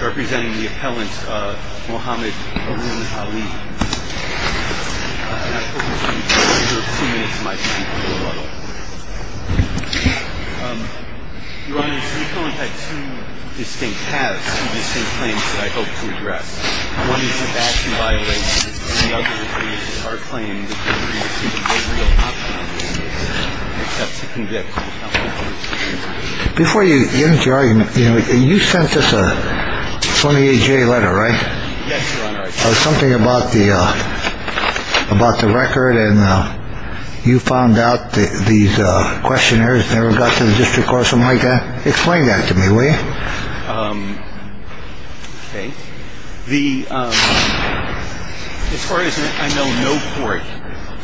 representing the appellant Mohamed Haroun Ali. I have two distinct claims that I hope to address. One is an action violation and the other is our claim that you have received a very real option from the police and accept to convict. Before you get into your argument, you sent us a 28-J letter, right? Yes, Your Honor. Something about the record and you found out these questionnaires never got to the district court or something like that. Explain that to me, will you? Okay. As far as I know, no court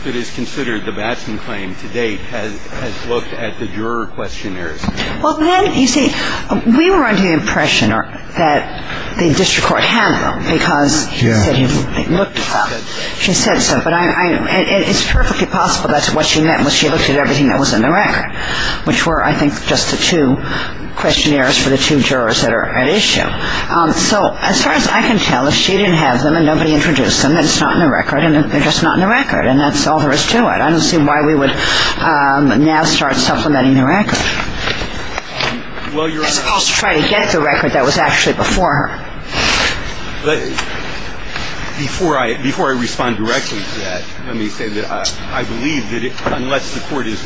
that has considered the Batson claim to date has looked at the juror questionnaires. Well, then, you see, we were under the impression that the district court had them because he said he looked them up. She said so. It's perfectly possible that's what she meant when she looked at everything that was in the record, which were, I think, just the two questionnaires for the two jurors that are at issue. So as far as I can tell, she didn't have them and nobody introduced them. It's not in the record and they're just not in the record and that's all there is to it. I don't see why we would now start supplementing the record as opposed to trying to get the record that was actually before her. Before I respond directly to that, let me say that I believe that unless the court is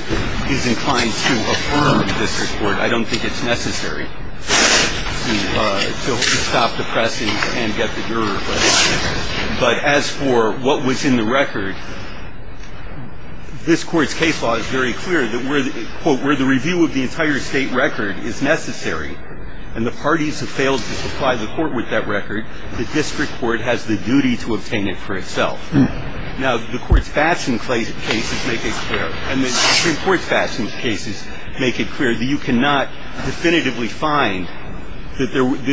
inclined to affirm this report, I don't think it's necessary to stop the pressing and get the juror. But as for what was in the record, this court's case law is very clear that where the review of the entire state record is necessary and the parties have failed to supply the court with that record, the district court has the duty to obtain it for itself. Now, the court's facts and cases make it clear. And the Supreme Court's facts and cases make it clear that you cannot definitively find that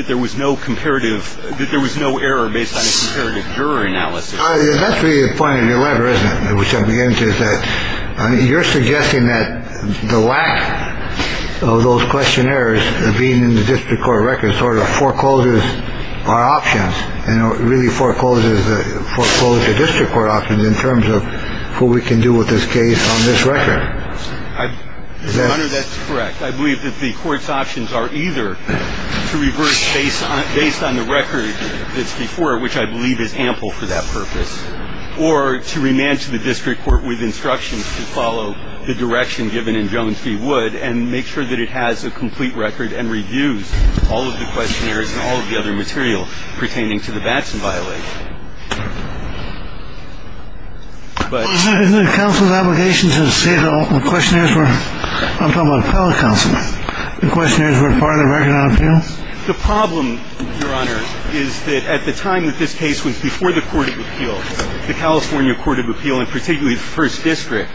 there was no comparative, that there was no error based on a comparative juror analysis. That's really the point of your letter, isn't it? That you're suggesting that the lack of those questionnaires being in the district court record sort of forecloses our options and really forecloses the foreclosure district court options in terms of who we can do with this case on this record. That's correct. I believe that the court's options are either to reverse based on based on the record that's before it, which I believe is ample for that purpose, or to remand to the district court with instructions to follow the direction given in Jones v. Wood and make sure that it has a complete record and reviews all of the questionnaires and all of the other material pertaining to the Batson violation. Isn't it counsel's obligation to say the questionnaires were, I'm talking about appellate counsel, the questionnaires were part of the record on appeal? The problem, Your Honor, is that at the time that this case was before the court of appeal, the California court of appeal, and particularly the first district,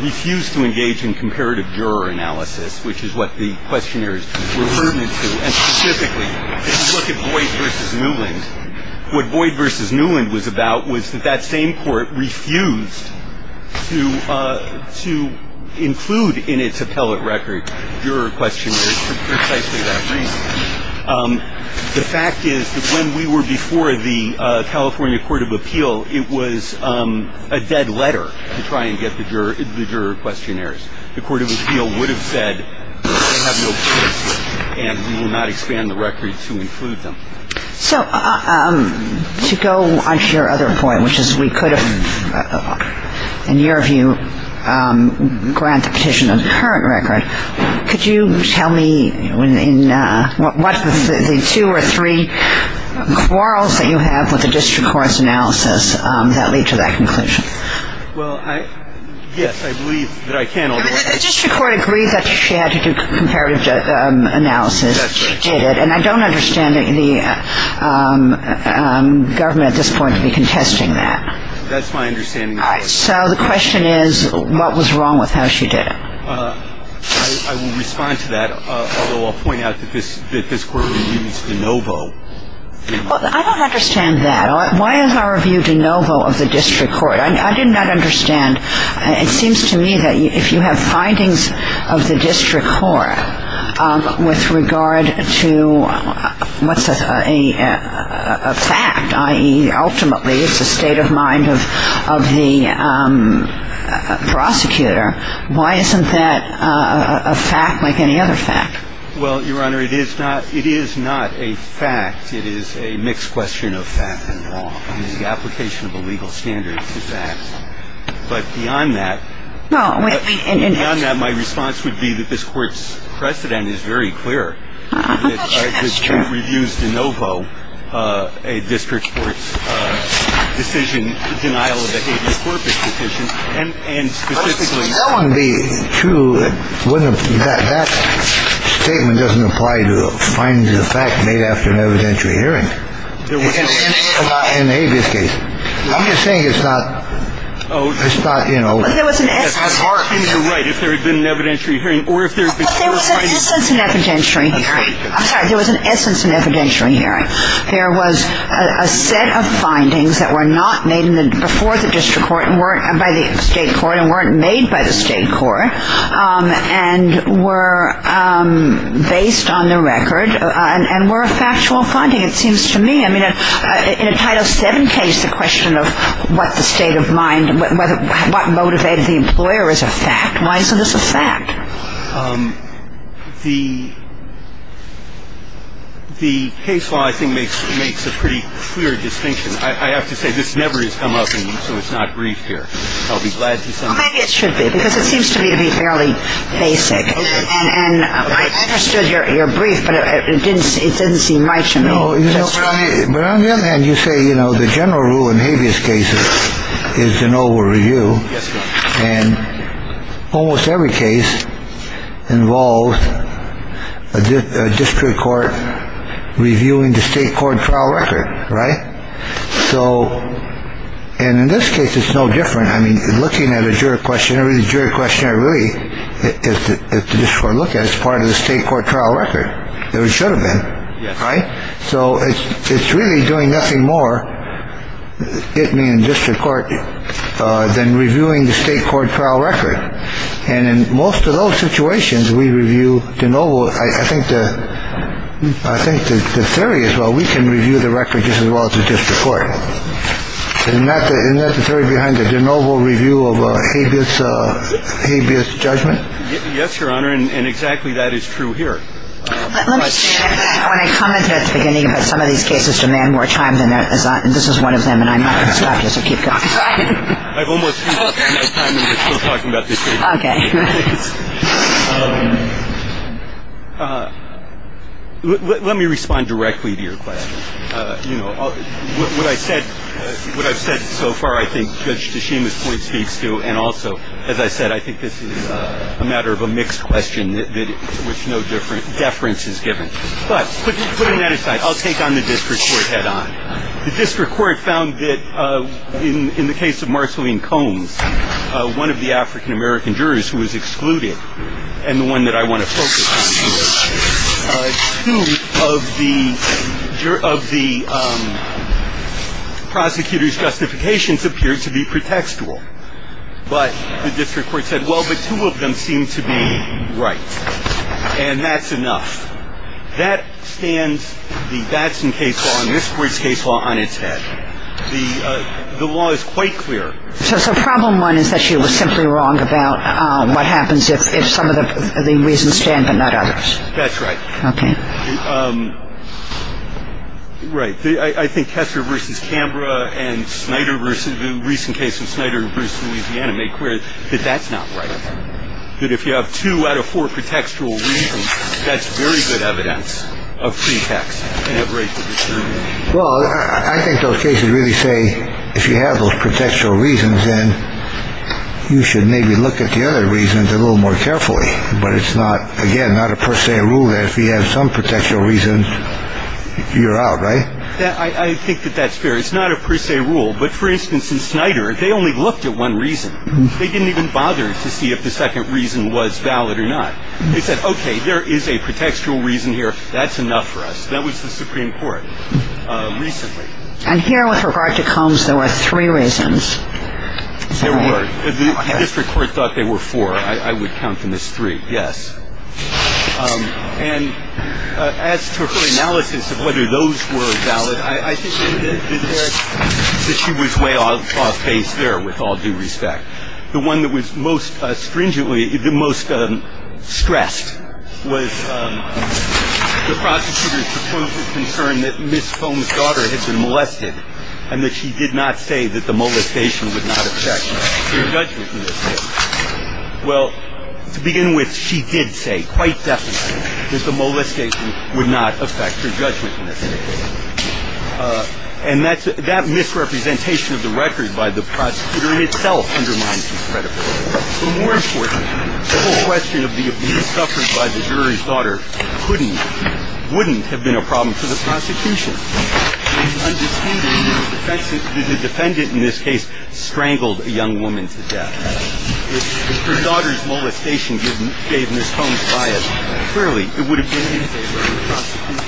refused to engage in comparative juror analysis, which is what the questionnaires were pertinent to. And specifically, if you look at Boyd v. Newland, what Boyd v. Newland was about was that that same court refused to include in its appellate record juror questionnaires for precisely that reason. The fact is that when we were before the California court of appeal, it was a dead letter to try and get the juror questionnaires. The court of appeal would have said they have no proof and we will not expand the record to include them. So to go on to your other point, which is we could have, in your view, grant the petition on the current record, could you tell me what the two or three quarrels that you have with the district court's analysis that lead to that conclusion? Well, yes, I believe that I can. The district court agreed that she had to do comparative analysis. That's right. And I don't understand the government at this point to be contesting that. That's my understanding. So the question is, what was wrong with how she did it? I will respond to that, although I'll point out that this court reviews de novo. I don't understand that. Why is our review de novo of the district court? I did not understand. It seems to me that if you have findings of the district court with regard to what's a fact, i.e., ultimately it's a state of mind of the prosecutor, why isn't that a fact like any other fact? Well, Your Honor, it is not a fact. It is a mixed question of fact and law. It is the application of a legal standard to facts. But beyond that, my response would be that this court's precedent is very clear, that she reviews de novo a district court's decision, denial of a habeas corpus petition, and specifically to that statement doesn't apply to findings of fact made after an evidentiary hearing. In the habeas case. I'm just saying it's not, you know. But there was an essence. You're right, if there had been an evidentiary hearing. But there was an essence in evidentiary hearing. I'm sorry. There was an essence in evidentiary hearing. There was a set of findings that were not made before the district court by the state court and weren't made by the state court and were based on the record and were a factual finding, it seems to me. I mean, in a Title VII case, the question of what the state of mind, what motivated the employer is a fact. Why isn't this a fact? The case law, I think, makes a pretty clear distinction. I have to say, this never has come up, and so it's not briefed here. I'll be glad to say. Maybe it should be, because it seems to me to be fairly basic. And I understood your brief, but it didn't seem right to me. You know, but on the other hand, you say, you know, the general rule in habeas cases is to no over review. And almost every case involves a district court reviewing the state court trial record. Right. So. And in this case, it's no different. I mean, looking at a jury questionnaire, the jury questionnaire really is to look at as part of the state court trial record. There should have been. Yes. So it's really doing nothing more. It means district court than reviewing the state court trial record. And in most of those situations, we review the noble. I think the I think the theory is, well, we can review the record just as well as the district court. And that is not the theory behind the de novo review of habeas habeas judgment. Yes, Your Honor. And exactly that is true here. Let me say that when I commented at the beginning about some of these cases demand more time than this is one of them. And I'm not going to stop you. So keep going. I've almost. We're talking about this. OK. Let me respond directly to your question. You know, what I said, what I've said so far, I think Judge Tashima's point speaks to. And also, as I said, I think this is a matter of a mixed question that with no different deference is given. But putting that aside, I'll take on the district head on. The district court found that in the case of Marceline Combs, one of the African-American jurors who was excluded. And the one that I want to focus on here. Two of the of the prosecutor's justifications appeared to be pretextual. But the district court said, well, but two of them seem to be right. And that's enough. That stands the Batson case law and this court's case law on its head. The law is quite clear. So problem one is that she was simply wrong about what happens if some of the reasons stand, but not others. That's right. OK. Right. I think Kessler versus Cambra and Snyder versus the recent case of Snyder versus Louisiana make clear that that's not right. That if you have two out of four contextual reasons, that's very good evidence of pretext. Well, I think those cases really say if you have those contextual reasons and you should maybe look at the other reasons a little more carefully. But it's not, again, not a per se rule that if you have some contextual reasons, you're out. Right. I think that that's fair. It's not a per se rule. But for instance, in Snyder, they only looked at one reason. They didn't even bother to see if the second reason was valid or not. They said, OK, there is a contextual reason here. That's enough for us. That was the Supreme Court recently. And here with regard to Combs, there were three reasons. The district court thought they were four. I would count them as three. Yes. And as to her analysis of whether those were valid, I think that she was way off base there, with all due respect. The one that was most stringently, the most stressed was the prosecutor's proposed concern that Ms. Combs' daughter had been molested and that she did not say that the molestation would not affect her judgment in this case. Well, to begin with, she did say quite definitely that the molestation would not affect her judgment in this case. And that misrepresentation of the record by the prosecutor itself undermines his credibility. But more importantly, the whole question of the abuse suffered by the jury's daughter couldn't, wouldn't have been a problem for the prosecution. The defendant in this case strangled a young woman to death. If her daughter's molestation gave Ms. Combs bias, clearly it would have been in favor of the prosecution.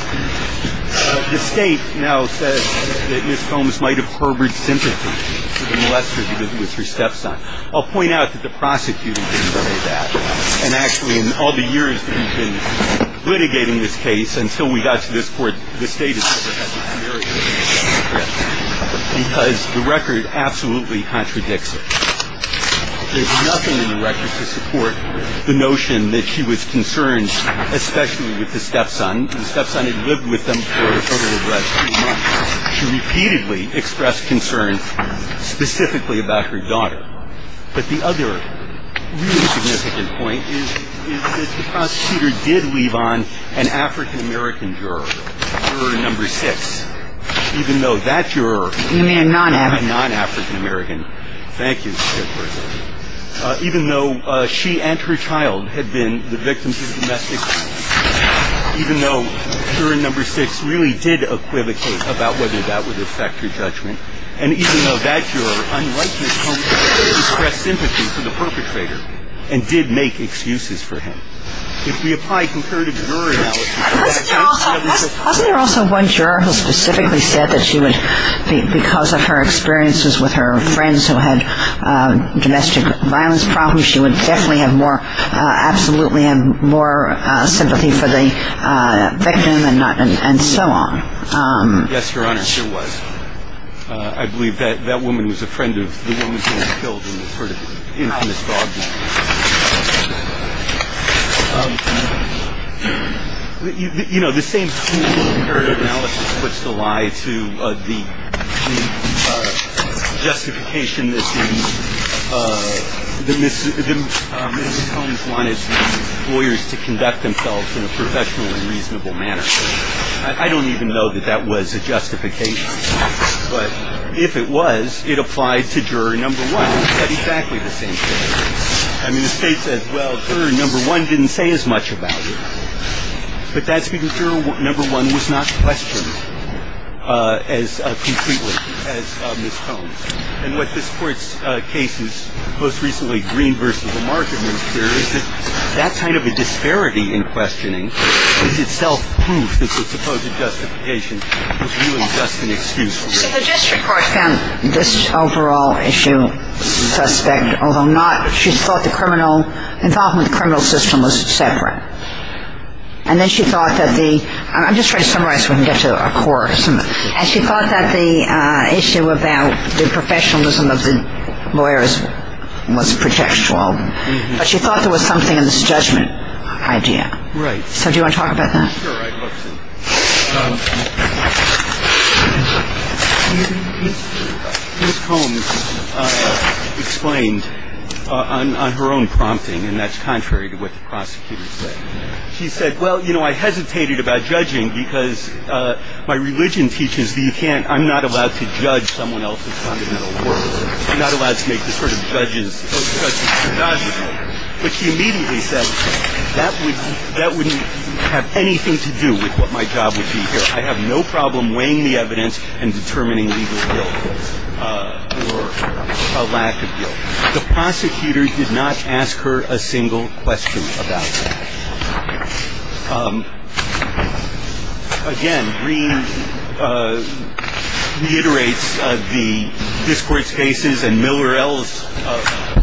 The State now says that Ms. Combs might have harbored sympathy for the molester because it was her stepson. I'll point out that the prosecutor didn't say that. And actually, in all the years that we've been litigating this case until we got to this court, the State has said that that's a very illegal act, because the record absolutely contradicts it. There's nothing in the record to support the notion that she was concerned, especially with the stepson. The stepson had lived with them for a total of about two months. She repeatedly expressed concern specifically about her daughter. But the other really significant point is that the prosecutor did leave on an African-American juror, juror number six, even though that juror was a non-African-American. Thank you. Even though she and her child had been the victims of domestic violence. Even though juror number six really did equivocate about whether that would affect her judgment. And even though that juror, unlike Ms. Combs, expressed sympathy for the perpetrator and did make excuses for him. If we apply comparative juror analysis... Wasn't there also one juror who specifically said that she would, because of her experiences with her friends who had domestic violence problems, that she would definitely have more, absolutely have more sympathy for the victim and so on? Yes, Your Honor, there was. I believe that woman was a friend of the woman who was killed and was sort of infamous for objecting. You know, the same comparative analysis puts the lie to the justification that Ms. Combs wanted the lawyers to conduct themselves in a professional and reasonable manner. I don't even know that that was a justification. But if it was, it applied to juror number one. I mean, the State says, well, juror number one didn't say as much about it. But that's because juror number one was not questioned as completely as Ms. Combs. And what this Court's case is, most recently Green v. Lamarck in this case, is that that kind of a disparity in questioning is itself proof that the supposed justification was really just an excuse. So the district court found this overall issue suspect, although not, she thought the criminal, involvement in the criminal system was separate. And then she thought that the, I'm just trying to summarize so we can get to a core. And she thought that the issue about the professionalism of the lawyers was pretextual. But she thought there was something in this judgment idea. Right. So do you want to talk about that? I'm not sure I've looked at it. Ms. Combs explained on her own prompting, and that's contrary to what the prosecutor said. She said, well, you know, I hesitated about judging because my religion teaches that you can't I'm not allowed to judge someone else's fundamental work. I'm not allowed to make this sort of judgment. But she immediately said that that wouldn't have anything to do with what my job would be here. I have no problem weighing the evidence and determining legal guilt or a lack of guilt. The prosecutor did not ask her a single question about that. Again, Green reiterates the discourse cases and Miller L's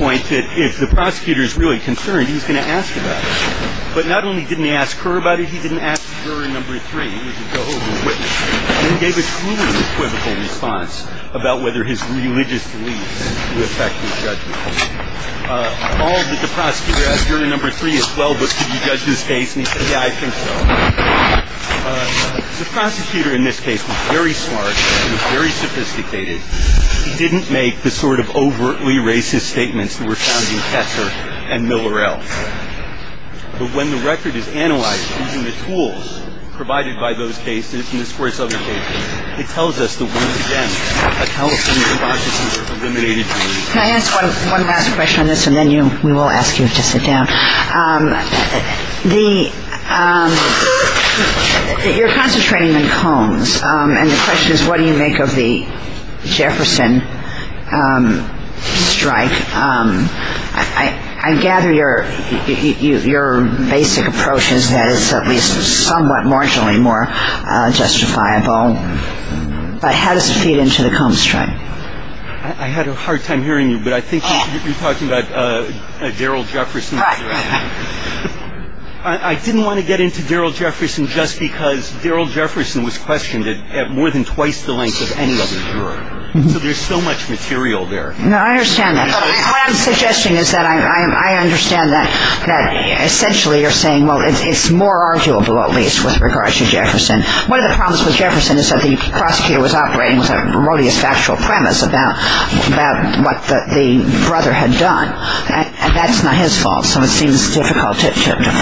point that if the prosecutor is really concerned, he's going to ask about it. But not only didn't he ask her about it, he didn't ask jury number three. He gave a truly equivocal response about whether his religious beliefs would affect his judgment. All that the prosecutor asked jury number three is, well, but did you judge this case? And he said, yeah, I think so. The prosecutor in this case was very smart and very sophisticated. He didn't make the sort of overtly racist statements that were found in Kessler and Miller L. But when the record is analyzed using the tools provided by those cases, it tells us that once again, a California consciousness was eliminated. Can I ask one last question on this, and then we will ask you to sit down? You're concentrating on Combs, and the question is, what do you make of the Jefferson strike? I gather your basic approach is that it's at least somewhat marginally more justifiable. But how does it feed into the Combs strike? I had a hard time hearing you, but I think you're talking about Daryl Jefferson. Right. I didn't want to get into Daryl Jefferson just because Daryl Jefferson was questioned at more than twice the length of any other juror. So there's so much material there. No, I understand that. What I'm suggesting is that I understand that essentially you're saying, well, it's more arguable, at least, with regards to Jefferson. One of the problems with Jefferson is that the prosecutor was operating with a erroneous factual premise about what the brother had done, and that's not his fault, so it seems difficult to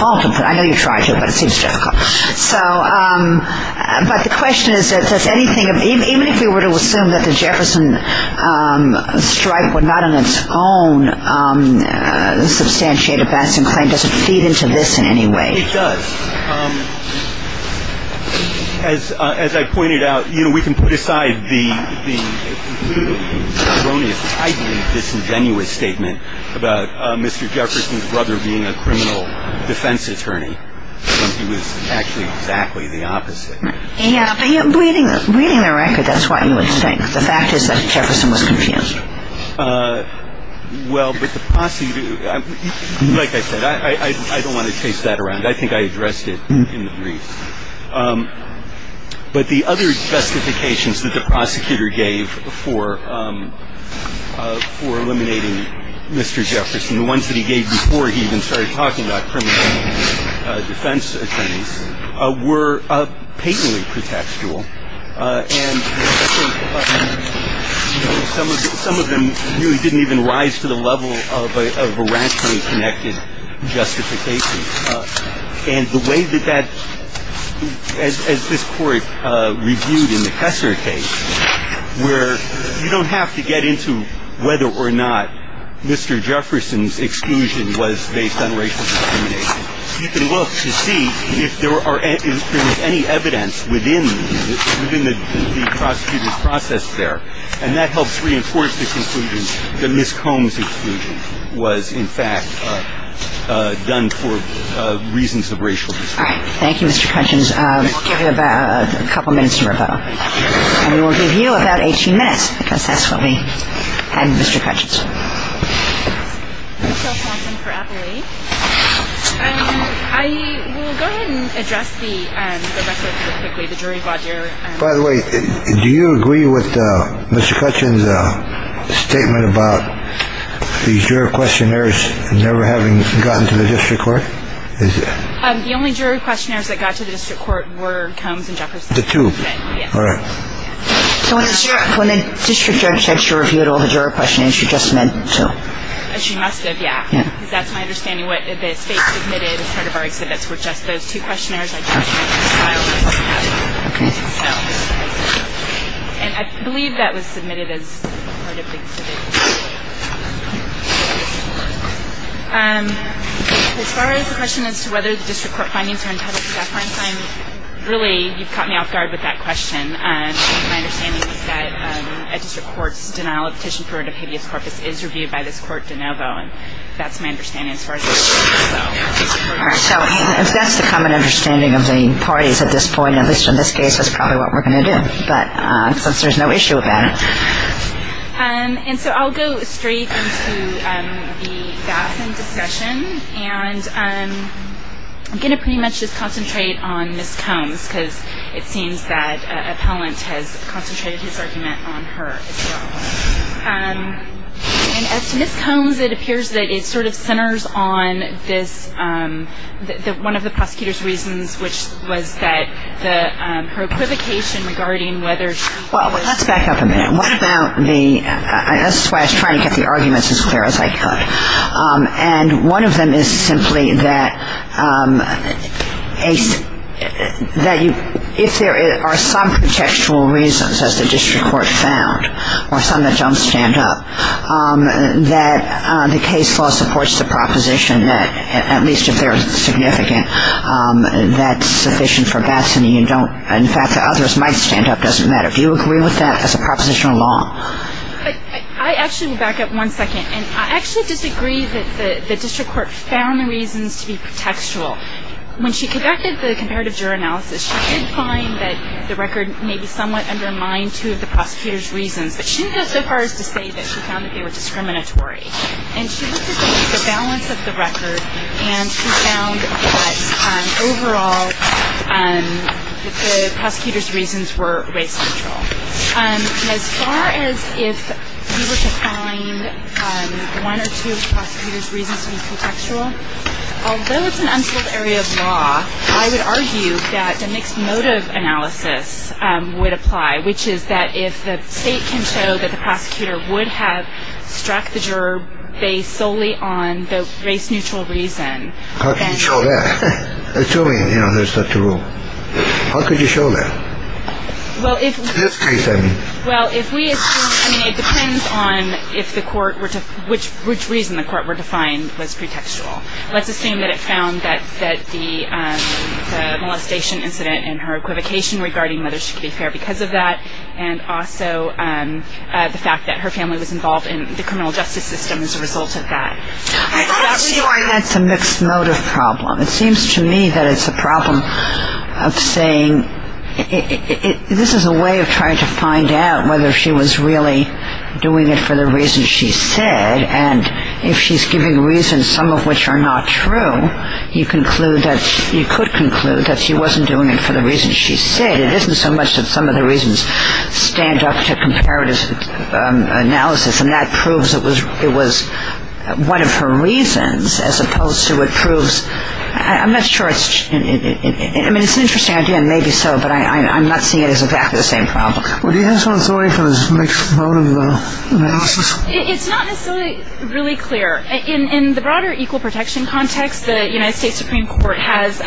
fault him for it. I know you tried to, but it seems difficult. So, but the question is, does anything, even if we were to assume that the Jefferson strike were not on its own, the substantiated Batson claim, does it feed into this in any way? It does. As I pointed out, you know, we can put aside the erroneous, tightly disingenuous statement about Mr. Jefferson's brother being a criminal defense attorney when he was actually exactly the opposite. Yeah, but reading the record, that's what you would think. The fact is that Jefferson was confused. Well, but the prosecutor, like I said, I don't want to chase that around. I think I addressed it in the brief. But the other justifications that the prosecutor gave for eliminating Mr. Jefferson, the ones that he gave before he even started talking about criminal defense attorneys, were patently pretextual. And some of them really didn't even rise to the level of a rationally connected justification. And the way that that, as this Court reviewed in the Kessler case, where you don't have to get into whether or not Mr. Jefferson's exclusion was based on racial discrimination. You can look to see if there is any evidence within the prosecutor's process there. And that helps reinforce the conclusion that Ms. Combs' exclusion was, in fact, done for reasons of racial discrimination. All right. Thank you, Mr. Cutchins. We'll give you about a couple minutes to rebuttal. And we'll give you about 18 minutes, because that's what we had with Mr. Cutchins. I will go ahead and address the record real quickly. By the way, do you agree with Mr. Cutchins' statement about these juror questionnaires never having gotten to the district court? The only juror questionnaires that got to the district court were Combs and Jefferson. The two. All right. So when the district judge said she reviewed all the juror questionnaires, she just meant two. She must have. Yeah. Because that's my understanding. What the state submitted as part of our exhibits were just those two questionnaires. And I believe that was submitted as part of the exhibit. As far as the question as to whether the district court findings are entitled to deference, really, you've caught me off guard with that question. My understanding is that a district court's denial of petition for an obedience corpus is reviewed by this court de novo. And that's my understanding as far as this goes. All right. So if that's the common understanding of the parties at this point, at least in this case, that's probably what we're going to do. But since there's no issue with that. And so I'll go straight into the Gaffin discussion. And I'm going to pretty much just concentrate on Ms. Combs, because it seems that an appellant has concentrated his argument on her as well. And as to Ms. Combs, it appears that it sort of centers on this, one of the prosecutor's reasons, which was that her equivocation regarding whether she was. Well, let's back up a minute. What about the, this is why I was trying to get the arguments as clear as I could. And one of them is simply that if there are some contextual reasons, as the district court found, or some that don't stand up, that the case law supports the proposition that, at least if they're significant, that's sufficient for Batson. You don't, in fact, the others might stand up, doesn't matter. Do you agree with that as a proposition of law? I actually will back up one second. And I actually disagree that the district court found the reasons to be contextual. When she conducted the comparative juror analysis, she did find that the record maybe somewhat undermined two of the prosecutor's reasons. But she didn't go so far as to say that she found that they were discriminatory. And she looked at the balance of the record, and she found that overall the prosecutor's reasons were race-central. As far as if we were to find one or two of the prosecutor's reasons to be contextual, although it's an unsolved area of law, I would argue that the mixed motive analysis would apply, which is that if the state can show that the prosecutor would have struck the juror based solely on the race-neutral reason. How can you show that? Assuming, you know, there's stuff to rule. How could you show that? It's a discrete thing. Well, if we assume, I mean, it depends on which reason the court were to find was pretextual. Let's assume that it found that the molestation incident and her equivocation regarding whether she could be fair because of that, and also the fact that her family was involved in the criminal justice system as a result of that. I don't see why that's a mixed motive problem. It seems to me that it's a problem of saying this is a way of trying to find out whether she was really doing it for the reasons she said, and if she's giving reasons, some of which are not true, you could conclude that she wasn't doing it for the reasons she said. It isn't so much that some of the reasons stand up to comparative analysis, and that proves it was one of her reasons as opposed to what proves – I'm not sure it's – I mean, it's an interesting idea, and maybe so, but I'm not seeing it as exactly the same problem. Well, do you have some authority for this mixed motive analysis? It's not necessarily really clear. In the broader equal protection context, the United States Supreme Court has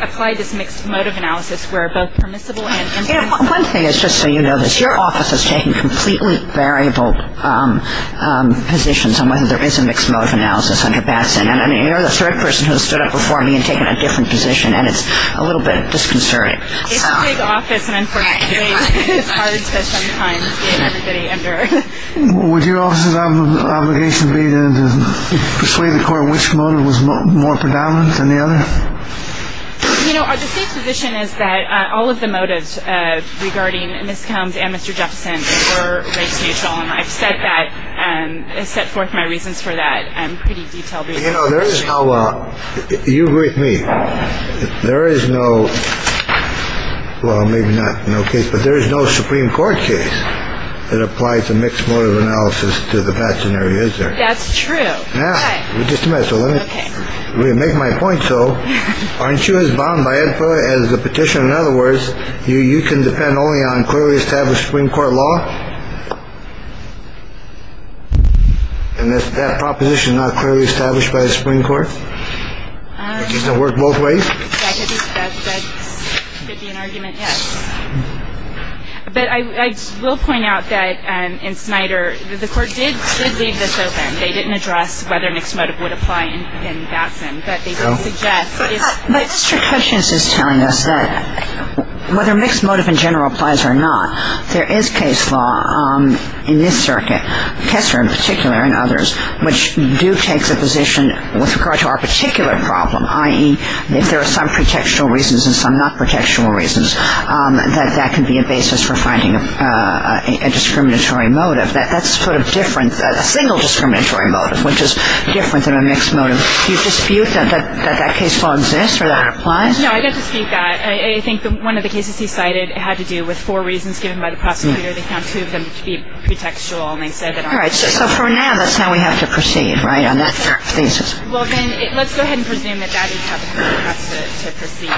applied this mixed motive analysis where both permissible and impermissible. One thing is just so you know this, your office is taking completely variable positions on whether there is a mixed motive analysis under Batson, and you're the third person who has stood up before me and taken a different position, and it's a little bit disconcerting. It's a big office, and unfortunately it's hard to sometimes get everybody under. Would your office's obligation be then to persuade the court which motive was more predominant than the other? You know, the safe position is that all of the motives regarding Ms. Combs and Mr. Jefferson were race neutral, and I've set forth my reasons for that in pretty detailed detail. You know, there is no – you agree with me. There is no – well, maybe not no case, but there is no Supreme Court case that applies a mixed motive analysis to the Batson area, is there? That's true. All right. Just a minute, so let me make my point, so. Aren't you as bound by it as the petition? In other words, you can depend only on clearly established Supreme Court law? And is that proposition not clearly established by the Supreme Court? Does it work both ways? That could be an argument, yes. But I will point out that in Snyder, the court did leave this open. They didn't address whether mixed motive would apply in Batson, but they did suggest it is. But Mr. Kessler is telling us that whether mixed motive in general applies or not, there is case law in this circuit, Kessler in particular and others, which do take the position with regard to our particular problem, i.e., if there are some protectional reasons and some not protectional reasons, that that can be a basis for finding a discriminatory motive. That's sort of different than a single discriminatory motive, which is different than a mixed motive. Do you dispute that that case law exists or that it applies? No, I don't dispute that. I think one of the cases he cited had to do with four reasons given by the prosecutor. They found two of them to be pretextual, and they said that aren't. All right. So for now, that's how we have to proceed, right, on that thesis? Well, then, let's go ahead and presume that that is how the Court has to proceed.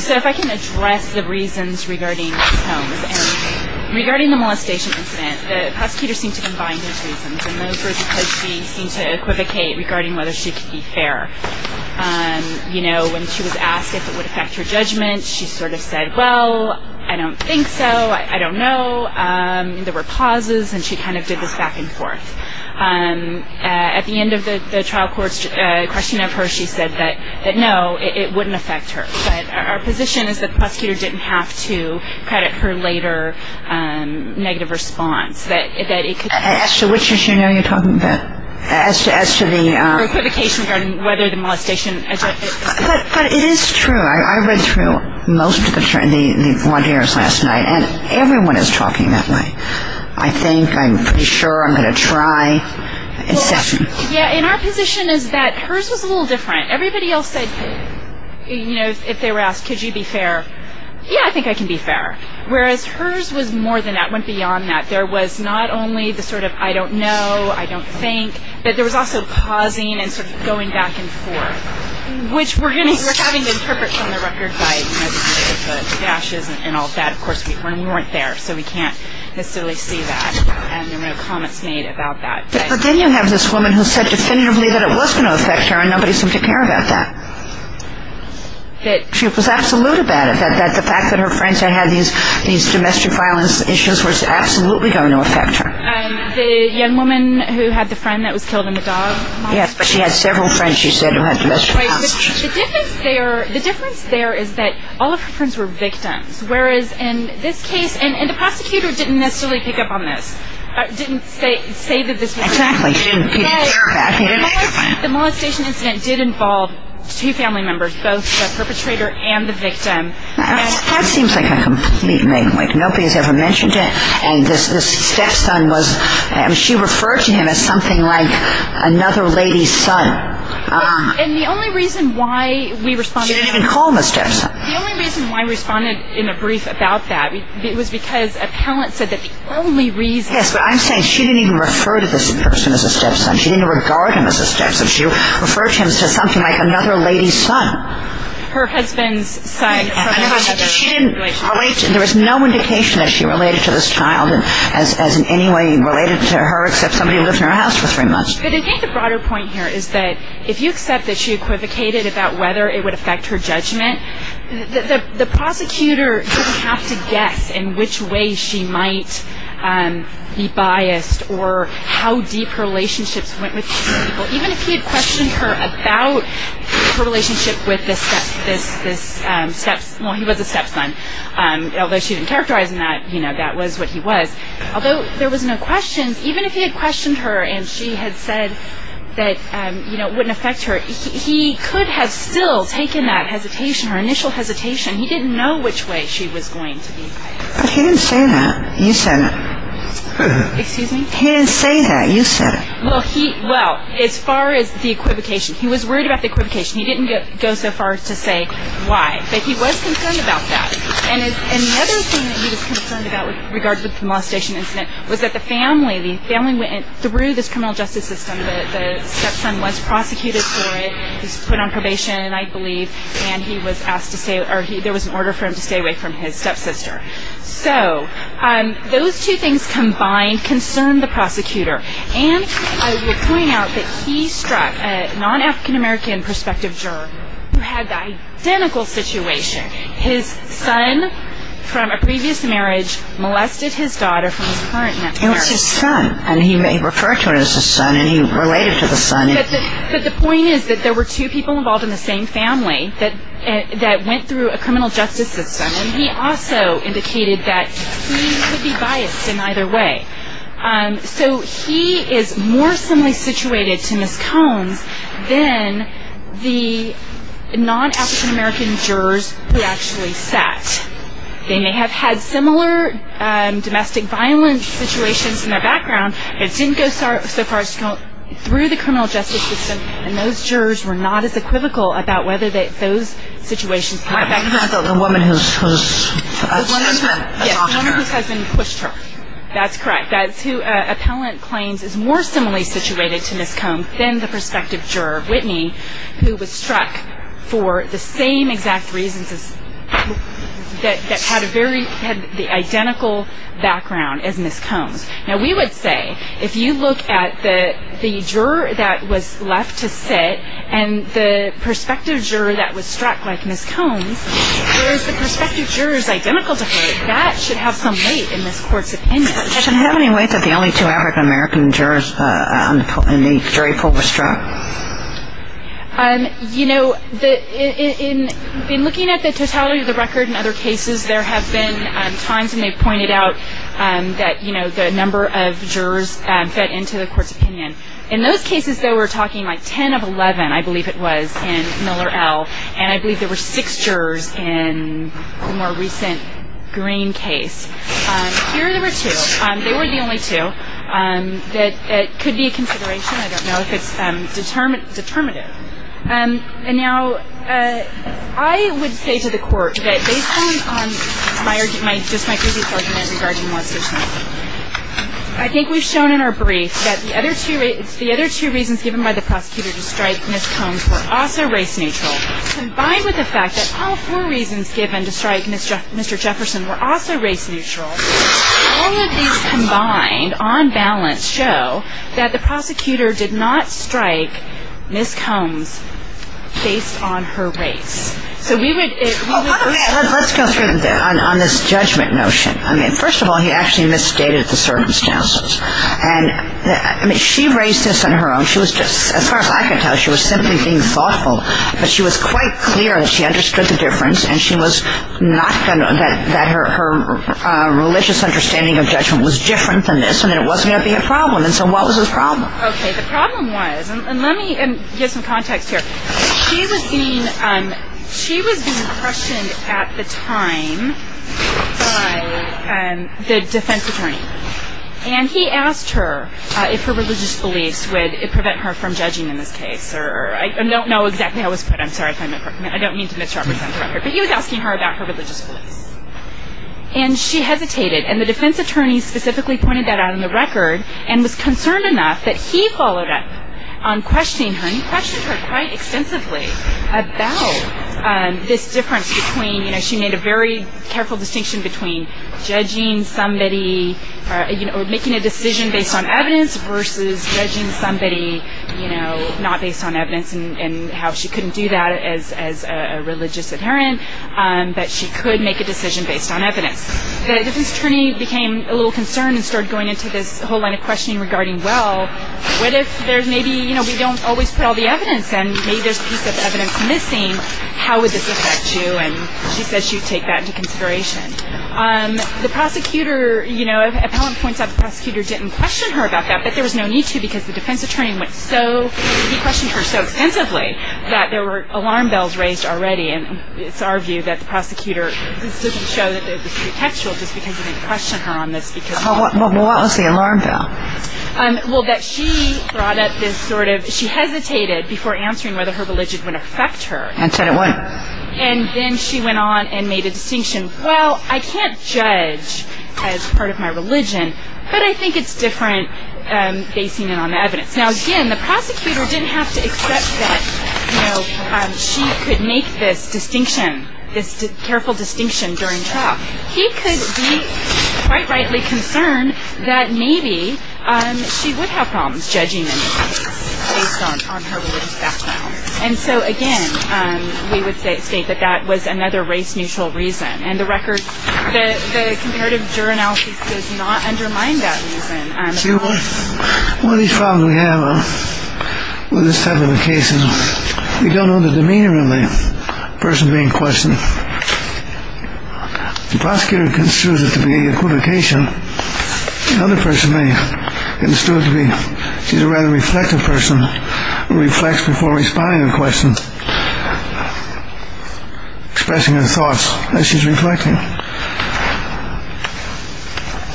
So if I can address the reasons regarding Holmes. Regarding the molestation incident, the prosecutor seemed to combine those reasons, and those were because she seemed to equivocate regarding whether she could be fair. You know, when she was asked if it would affect her judgment, she sort of said, well, I don't think so, I don't know. There were pauses, and she kind of did this back and forth. At the end of the trial court's questioning of her, she said that, no, it wouldn't affect her. But our position is that the prosecutor didn't have to credit her later negative response, that it could. As to which issue now you're talking about? As to the. Equivocation regarding whether the molestation. But it is true. I read through most of the bond hearings last night, and everyone is talking that way. I think, I'm pretty sure, I'm going to try. Yeah, and our position is that hers was a little different. Everybody else said, you know, if they were asked, could you be fair, yeah, I think I can be fair. Whereas hers was more than that, went beyond that. There was not only the sort of I don't know, I don't think, but there was also pausing and sort of going back and forth. Which we're going to, we're having to interpret from the record by the gashes and all that, of course, when we weren't there, so we can't necessarily see that. And there were no comments made about that. But then you have this woman who said definitively that it was going to affect her, and nobody seemed to care about that. That. She was absolute about it, that the fact that her friends had these domestic violence issues was absolutely going to affect her. The young woman who had the friend that was killed in the dog molestation? Yes, but she had several friends, she said, who had domestic violence issues. The difference there is that all of her friends were victims. Whereas in this case, and the prosecutor didn't necessarily pick up on this, didn't say that this was. Exactly, she didn't care about it. The molestation incident did involve two family members, both the perpetrator and the victim. That seems like a complete name-wake. Nobody has ever mentioned it, and this stepson was, she referred to him as something like another lady's son. And the only reason why we responded. She didn't even call him a stepson. The only reason why we responded in a brief about that was because a parent said that the only reason. Yes, but I'm saying she didn't even refer to this person as a stepson. She didn't even regard him as a stepson. She referred to him as something like another lady's son. Her husband's son from another relationship. There was no indication that she related to this child as in any way related to her, except somebody who lived in her house for three months. But I think the broader point here is that if you accept that she equivocated about whether it would affect her judgment, the prosecutor didn't have to guess in which way she might be biased or how deep her relationships went with these people. Even if he had questioned her about her relationship with this stepson, well, he was a stepson. Although she didn't characterize him that, you know, that was what he was. Although there was no questions, even if he had questioned her and she had said that, you know, it wouldn't affect her, he could have still taken that hesitation, her initial hesitation. He didn't know which way she was going to be biased. He didn't say that. You said it. Excuse me? He didn't say that. You said it. Well, as far as the equivocation, he was worried about the equivocation. He didn't go so far as to say why. But he was concerned about that. And the other thing that he was concerned about with regard to the molestation incident was that the family, the family went through this criminal justice system. The stepson was prosecuted for it. He was put on probation, I believe, and he was asked to stay or there was an order for him to stay away from his stepsister. So those two things combined concerned the prosecutor. And I will point out that he struck a non-African-American prospective juror who had the identical situation. His son from a previous marriage molested his daughter from his current marriage. It was his son, and he may refer to it as his son, and he related to the son. But the point is that there were two people involved in the same family that went through a criminal justice system, and he also indicated that he would be biased in either way. So he is more similarly situated to Ms. Combs than the non-African-American jurors who actually sat. They may have had similar domestic violence situations in their background, but it didn't go so far as to go through the criminal justice system, and those jurors were not as equivocal about whether those situations came up. I thought the woman whose husband pushed her. That's correct. That's who appellant claims is more similarly situated to Ms. Combs than the prospective juror, Whitney, who was struck for the same exact reasons that had the identical background as Ms. Combs. Now, we would say if you look at the juror that was left to sit and the prospective juror that was struck like Ms. Combs, whereas the prospective juror is identical to her, that should have some weight in this court's opinion. Does it have any weight that the only two African-American jurors in the jury pool were struck? You know, in looking at the totality of the record in other cases, there have been times when they've pointed out that the number of jurors fed into the court's opinion. In those cases, though, we're talking like 10 of 11, I believe it was, in Miller L., and I believe there were six jurors in the more recent Green case. Here there were two. They were the only two. It could be a consideration. I don't know if it's determinative. Now, I would say to the court that based on just my previous argument regarding what's just happened, I think we've shown in our brief that the other two reasons given by the prosecutor to strike Ms. Combs were also race neutral. Combined with the fact that all four reasons given to strike Mr. Jefferson were also race neutral, all of these combined on balance show that the prosecutor did not strike Ms. Combs based on her race. Okay, let's go through on this judgment notion. I mean, first of all, he actually misstated the circumstances. I mean, she raised this on her own. As far as I can tell, she was simply being thoughtful, but she was quite clear that she understood the difference and that her religious understanding of judgment was different than this and it wasn't going to be a problem, and so what was the problem? Okay, the problem was, and let me give some context here. She was being questioned at the time by the defense attorney, and he asked her if her religious beliefs would prevent her from judging in this case. I don't know exactly how it was put. I'm sorry if I'm incorrect. I don't mean to misrepresent the record, but he was asking her about her religious beliefs, and she hesitated, and the defense attorney specifically pointed that out in the record and was concerned enough that he followed up on questioning her and questioned her quite extensively about this difference between, she made a very careful distinction between judging somebody or making a decision based on evidence versus judging somebody not based on evidence and how she couldn't do that as a religious adherent, but she could make a decision based on evidence. The defense attorney became a little concerned and started going into this whole line of questioning regarding, well, what if there's maybe, you know, we don't always put all the evidence, and maybe there's a piece of evidence missing, how would this affect you? And she says she would take that into consideration. The prosecutor, you know, an appellant points out the prosecutor didn't question her about that, but there was no need to because the defense attorney went so, he questioned her so extensively that there were alarm bells raised already, and it's our view that the prosecutor, this doesn't show that it was pretextual just because he didn't question her on this. Well, what was the alarm bell? Well, that she brought up this sort of, she hesitated before answering whether her religion would affect her. And said it wouldn't. And then she went on and made a distinction. Well, I can't judge as part of my religion, but I think it's different basing it on evidence. Now, again, the prosecutor didn't have to accept that, you know, she could make this distinction, this careful distinction during trial. He could be quite rightly concerned that maybe she would have problems judging anyone based on her religious background. And so, again, we would state that that was another race-neutral reason. And the comparative juror analysis does not undermine that reason. See, one of these problems we have with this type of a case, we don't know the demeanor of the person being questioned. The prosecutor considers it to be equivocation. Another person may consider it to be she's a rather reflective person who reflects before responding to questions, expressing her thoughts as she's reflecting.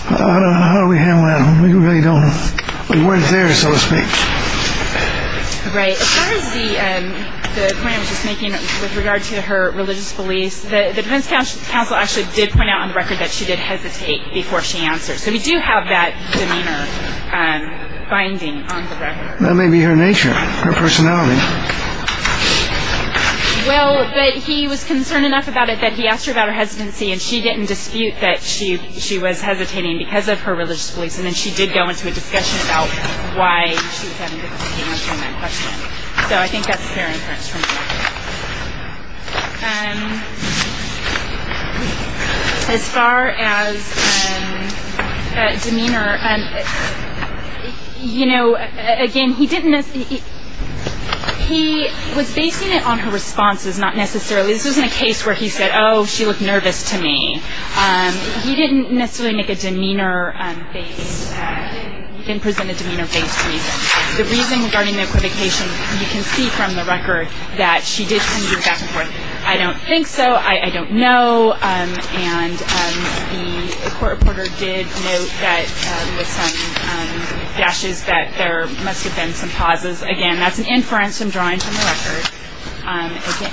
How do we handle that? We really don't know. The word is there, so to speak. Right. As far as the point I was just making with regard to her religious beliefs, the defense counsel actually did point out on the record that she did hesitate before she answered. So we do have that demeanor finding on the record. That may be her nature, her personality. Well, but he was concerned enough about it that he asked her about her hesitancy, and she didn't dispute that she was hesitating because of her religious beliefs. And then she did go into a discussion about why she was having difficulty answering that question. So I think that's fair inference from that. As far as demeanor, you know, again, he didn't necessarily he was basing it on her responses, not necessarily. This wasn't a case where he said, oh, she looked nervous to me. He didn't necessarily make a demeanor-based, didn't present a demeanor-based reason. The reason regarding the equivocation you can see from the record that she did tend to go back and forth. I don't think so. I don't know. And the court reporter did note that with some dashes that there must have been some pauses. Again, that's an inference I'm drawing from the record.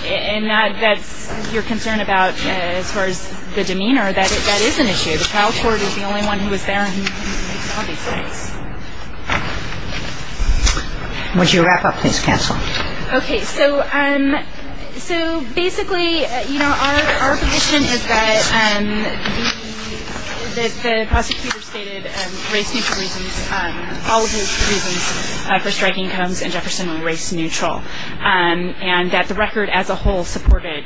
And that's your concern about, as far as the demeanor, that that is an issue. The trial court is the only one who is there who makes all these things. Would you wrap up? Please cancel. Okay. So basically, you know, our position is that the prosecutor stated race-neutral reasons, all of his reasons for striking Combs and Jefferson were race-neutral, and that the record as a whole supported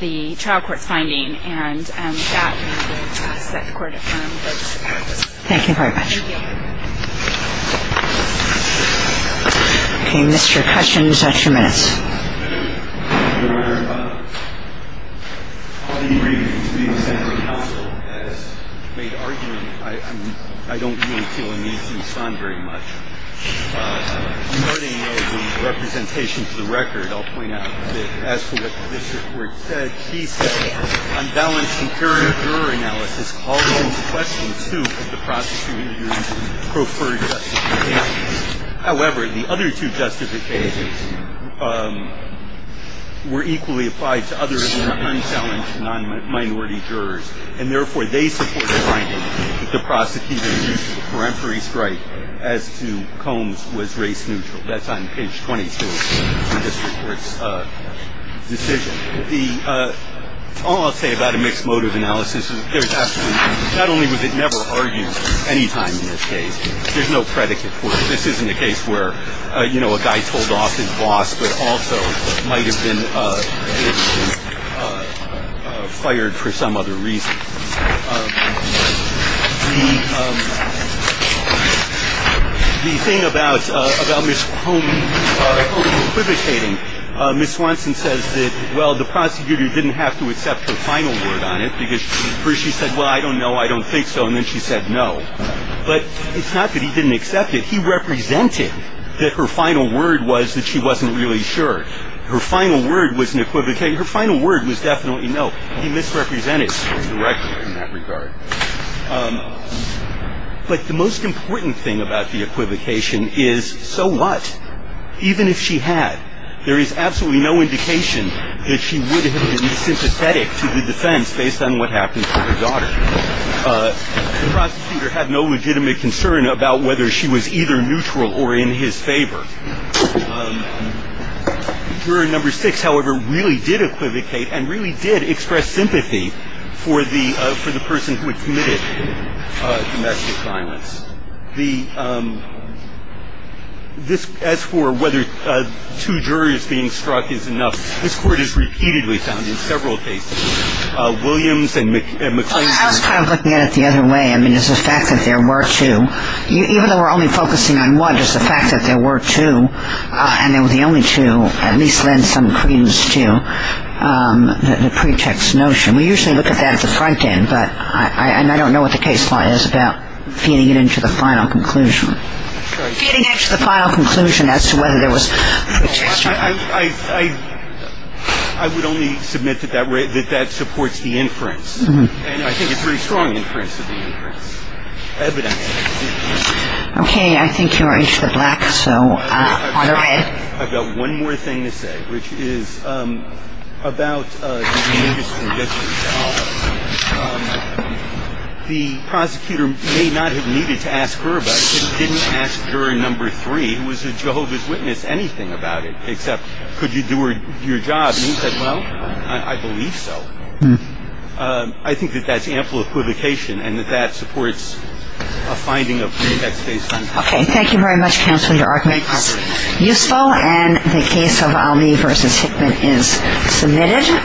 the trial court's finding. And that's what the court votes to pass. Thank you very much. Thank you. Okay. Mr. Cushon, you've got your minutes. Your Honor, I'll be brief. The senator's counsel has made arguments. I don't really feel a need to respond very much. Regarding the representation to the record, I'll point out that, as for what this report said, she said unbalanced juror analysis calls into question, too, the prosecutor's preferred justification. However, the other two justifications were equally applied to other unchallenged non-minority jurors, and therefore they support the finding that the prosecutor's use of the peremptory strike as to Combs was race-neutral. That's on page 22 of this report's decision. All I'll say about a mixed motive analysis is there's absolutely not only was it never argued any time in this case, there's no predicate for it. This isn't a case where, you know, a guy told off his boss but also might have been fired for some other reason. The thing about Ms. Combs equivocating, Ms. Swanson says that, well, the prosecutor didn't have to accept her final word on it because she said, well, I don't know, I don't think so, and then she said no. But it's not that he didn't accept it. He represented that her final word was that she wasn't really sure. Her final word was an equivocation. Her final word was definitely no. He misrepresented her directly in that regard. But the most important thing about the equivocation is, so what? Even if she had, there is absolutely no indication that she would have been sympathetic to the defense based on what happened to her daughter. The prosecutor had no legitimate concern about whether she was either neutral or in his favor. Juror number six, however, really did equivocate and really did express sympathy for the person who had committed domestic violence. As for whether two jurors being struck is enough, this Court has repeatedly found in several cases, Williams and McClain. I was kind of looking at it the other way. I mean, is the fact that there were two, even though we're only focusing on one, is the fact that there were two and they were the only two, at least lend some credence to the pretext notion. We usually look at that at the front end, but I don't know what the case law is about feeding it into the final conclusion. Feeding it into the final conclusion as to whether there was pretext. I would only submit that that supports the inference. And I think it's a very strong inference of the inference. Okay. I think you are into the black, so go ahead. I've got one more thing to say, which is about the prosecutor may not have needed to ask her about it. He didn't ask juror number three, who was a Jehovah's Witness, anything about it except could you do your job. And he said, well, I believe so. I think that that's ample equivocation and that that supports a finding of pretext based on fact. Okay. Thank you very much, counsel. Your argument is useful. And the case of Almey v. Hickman is submitted.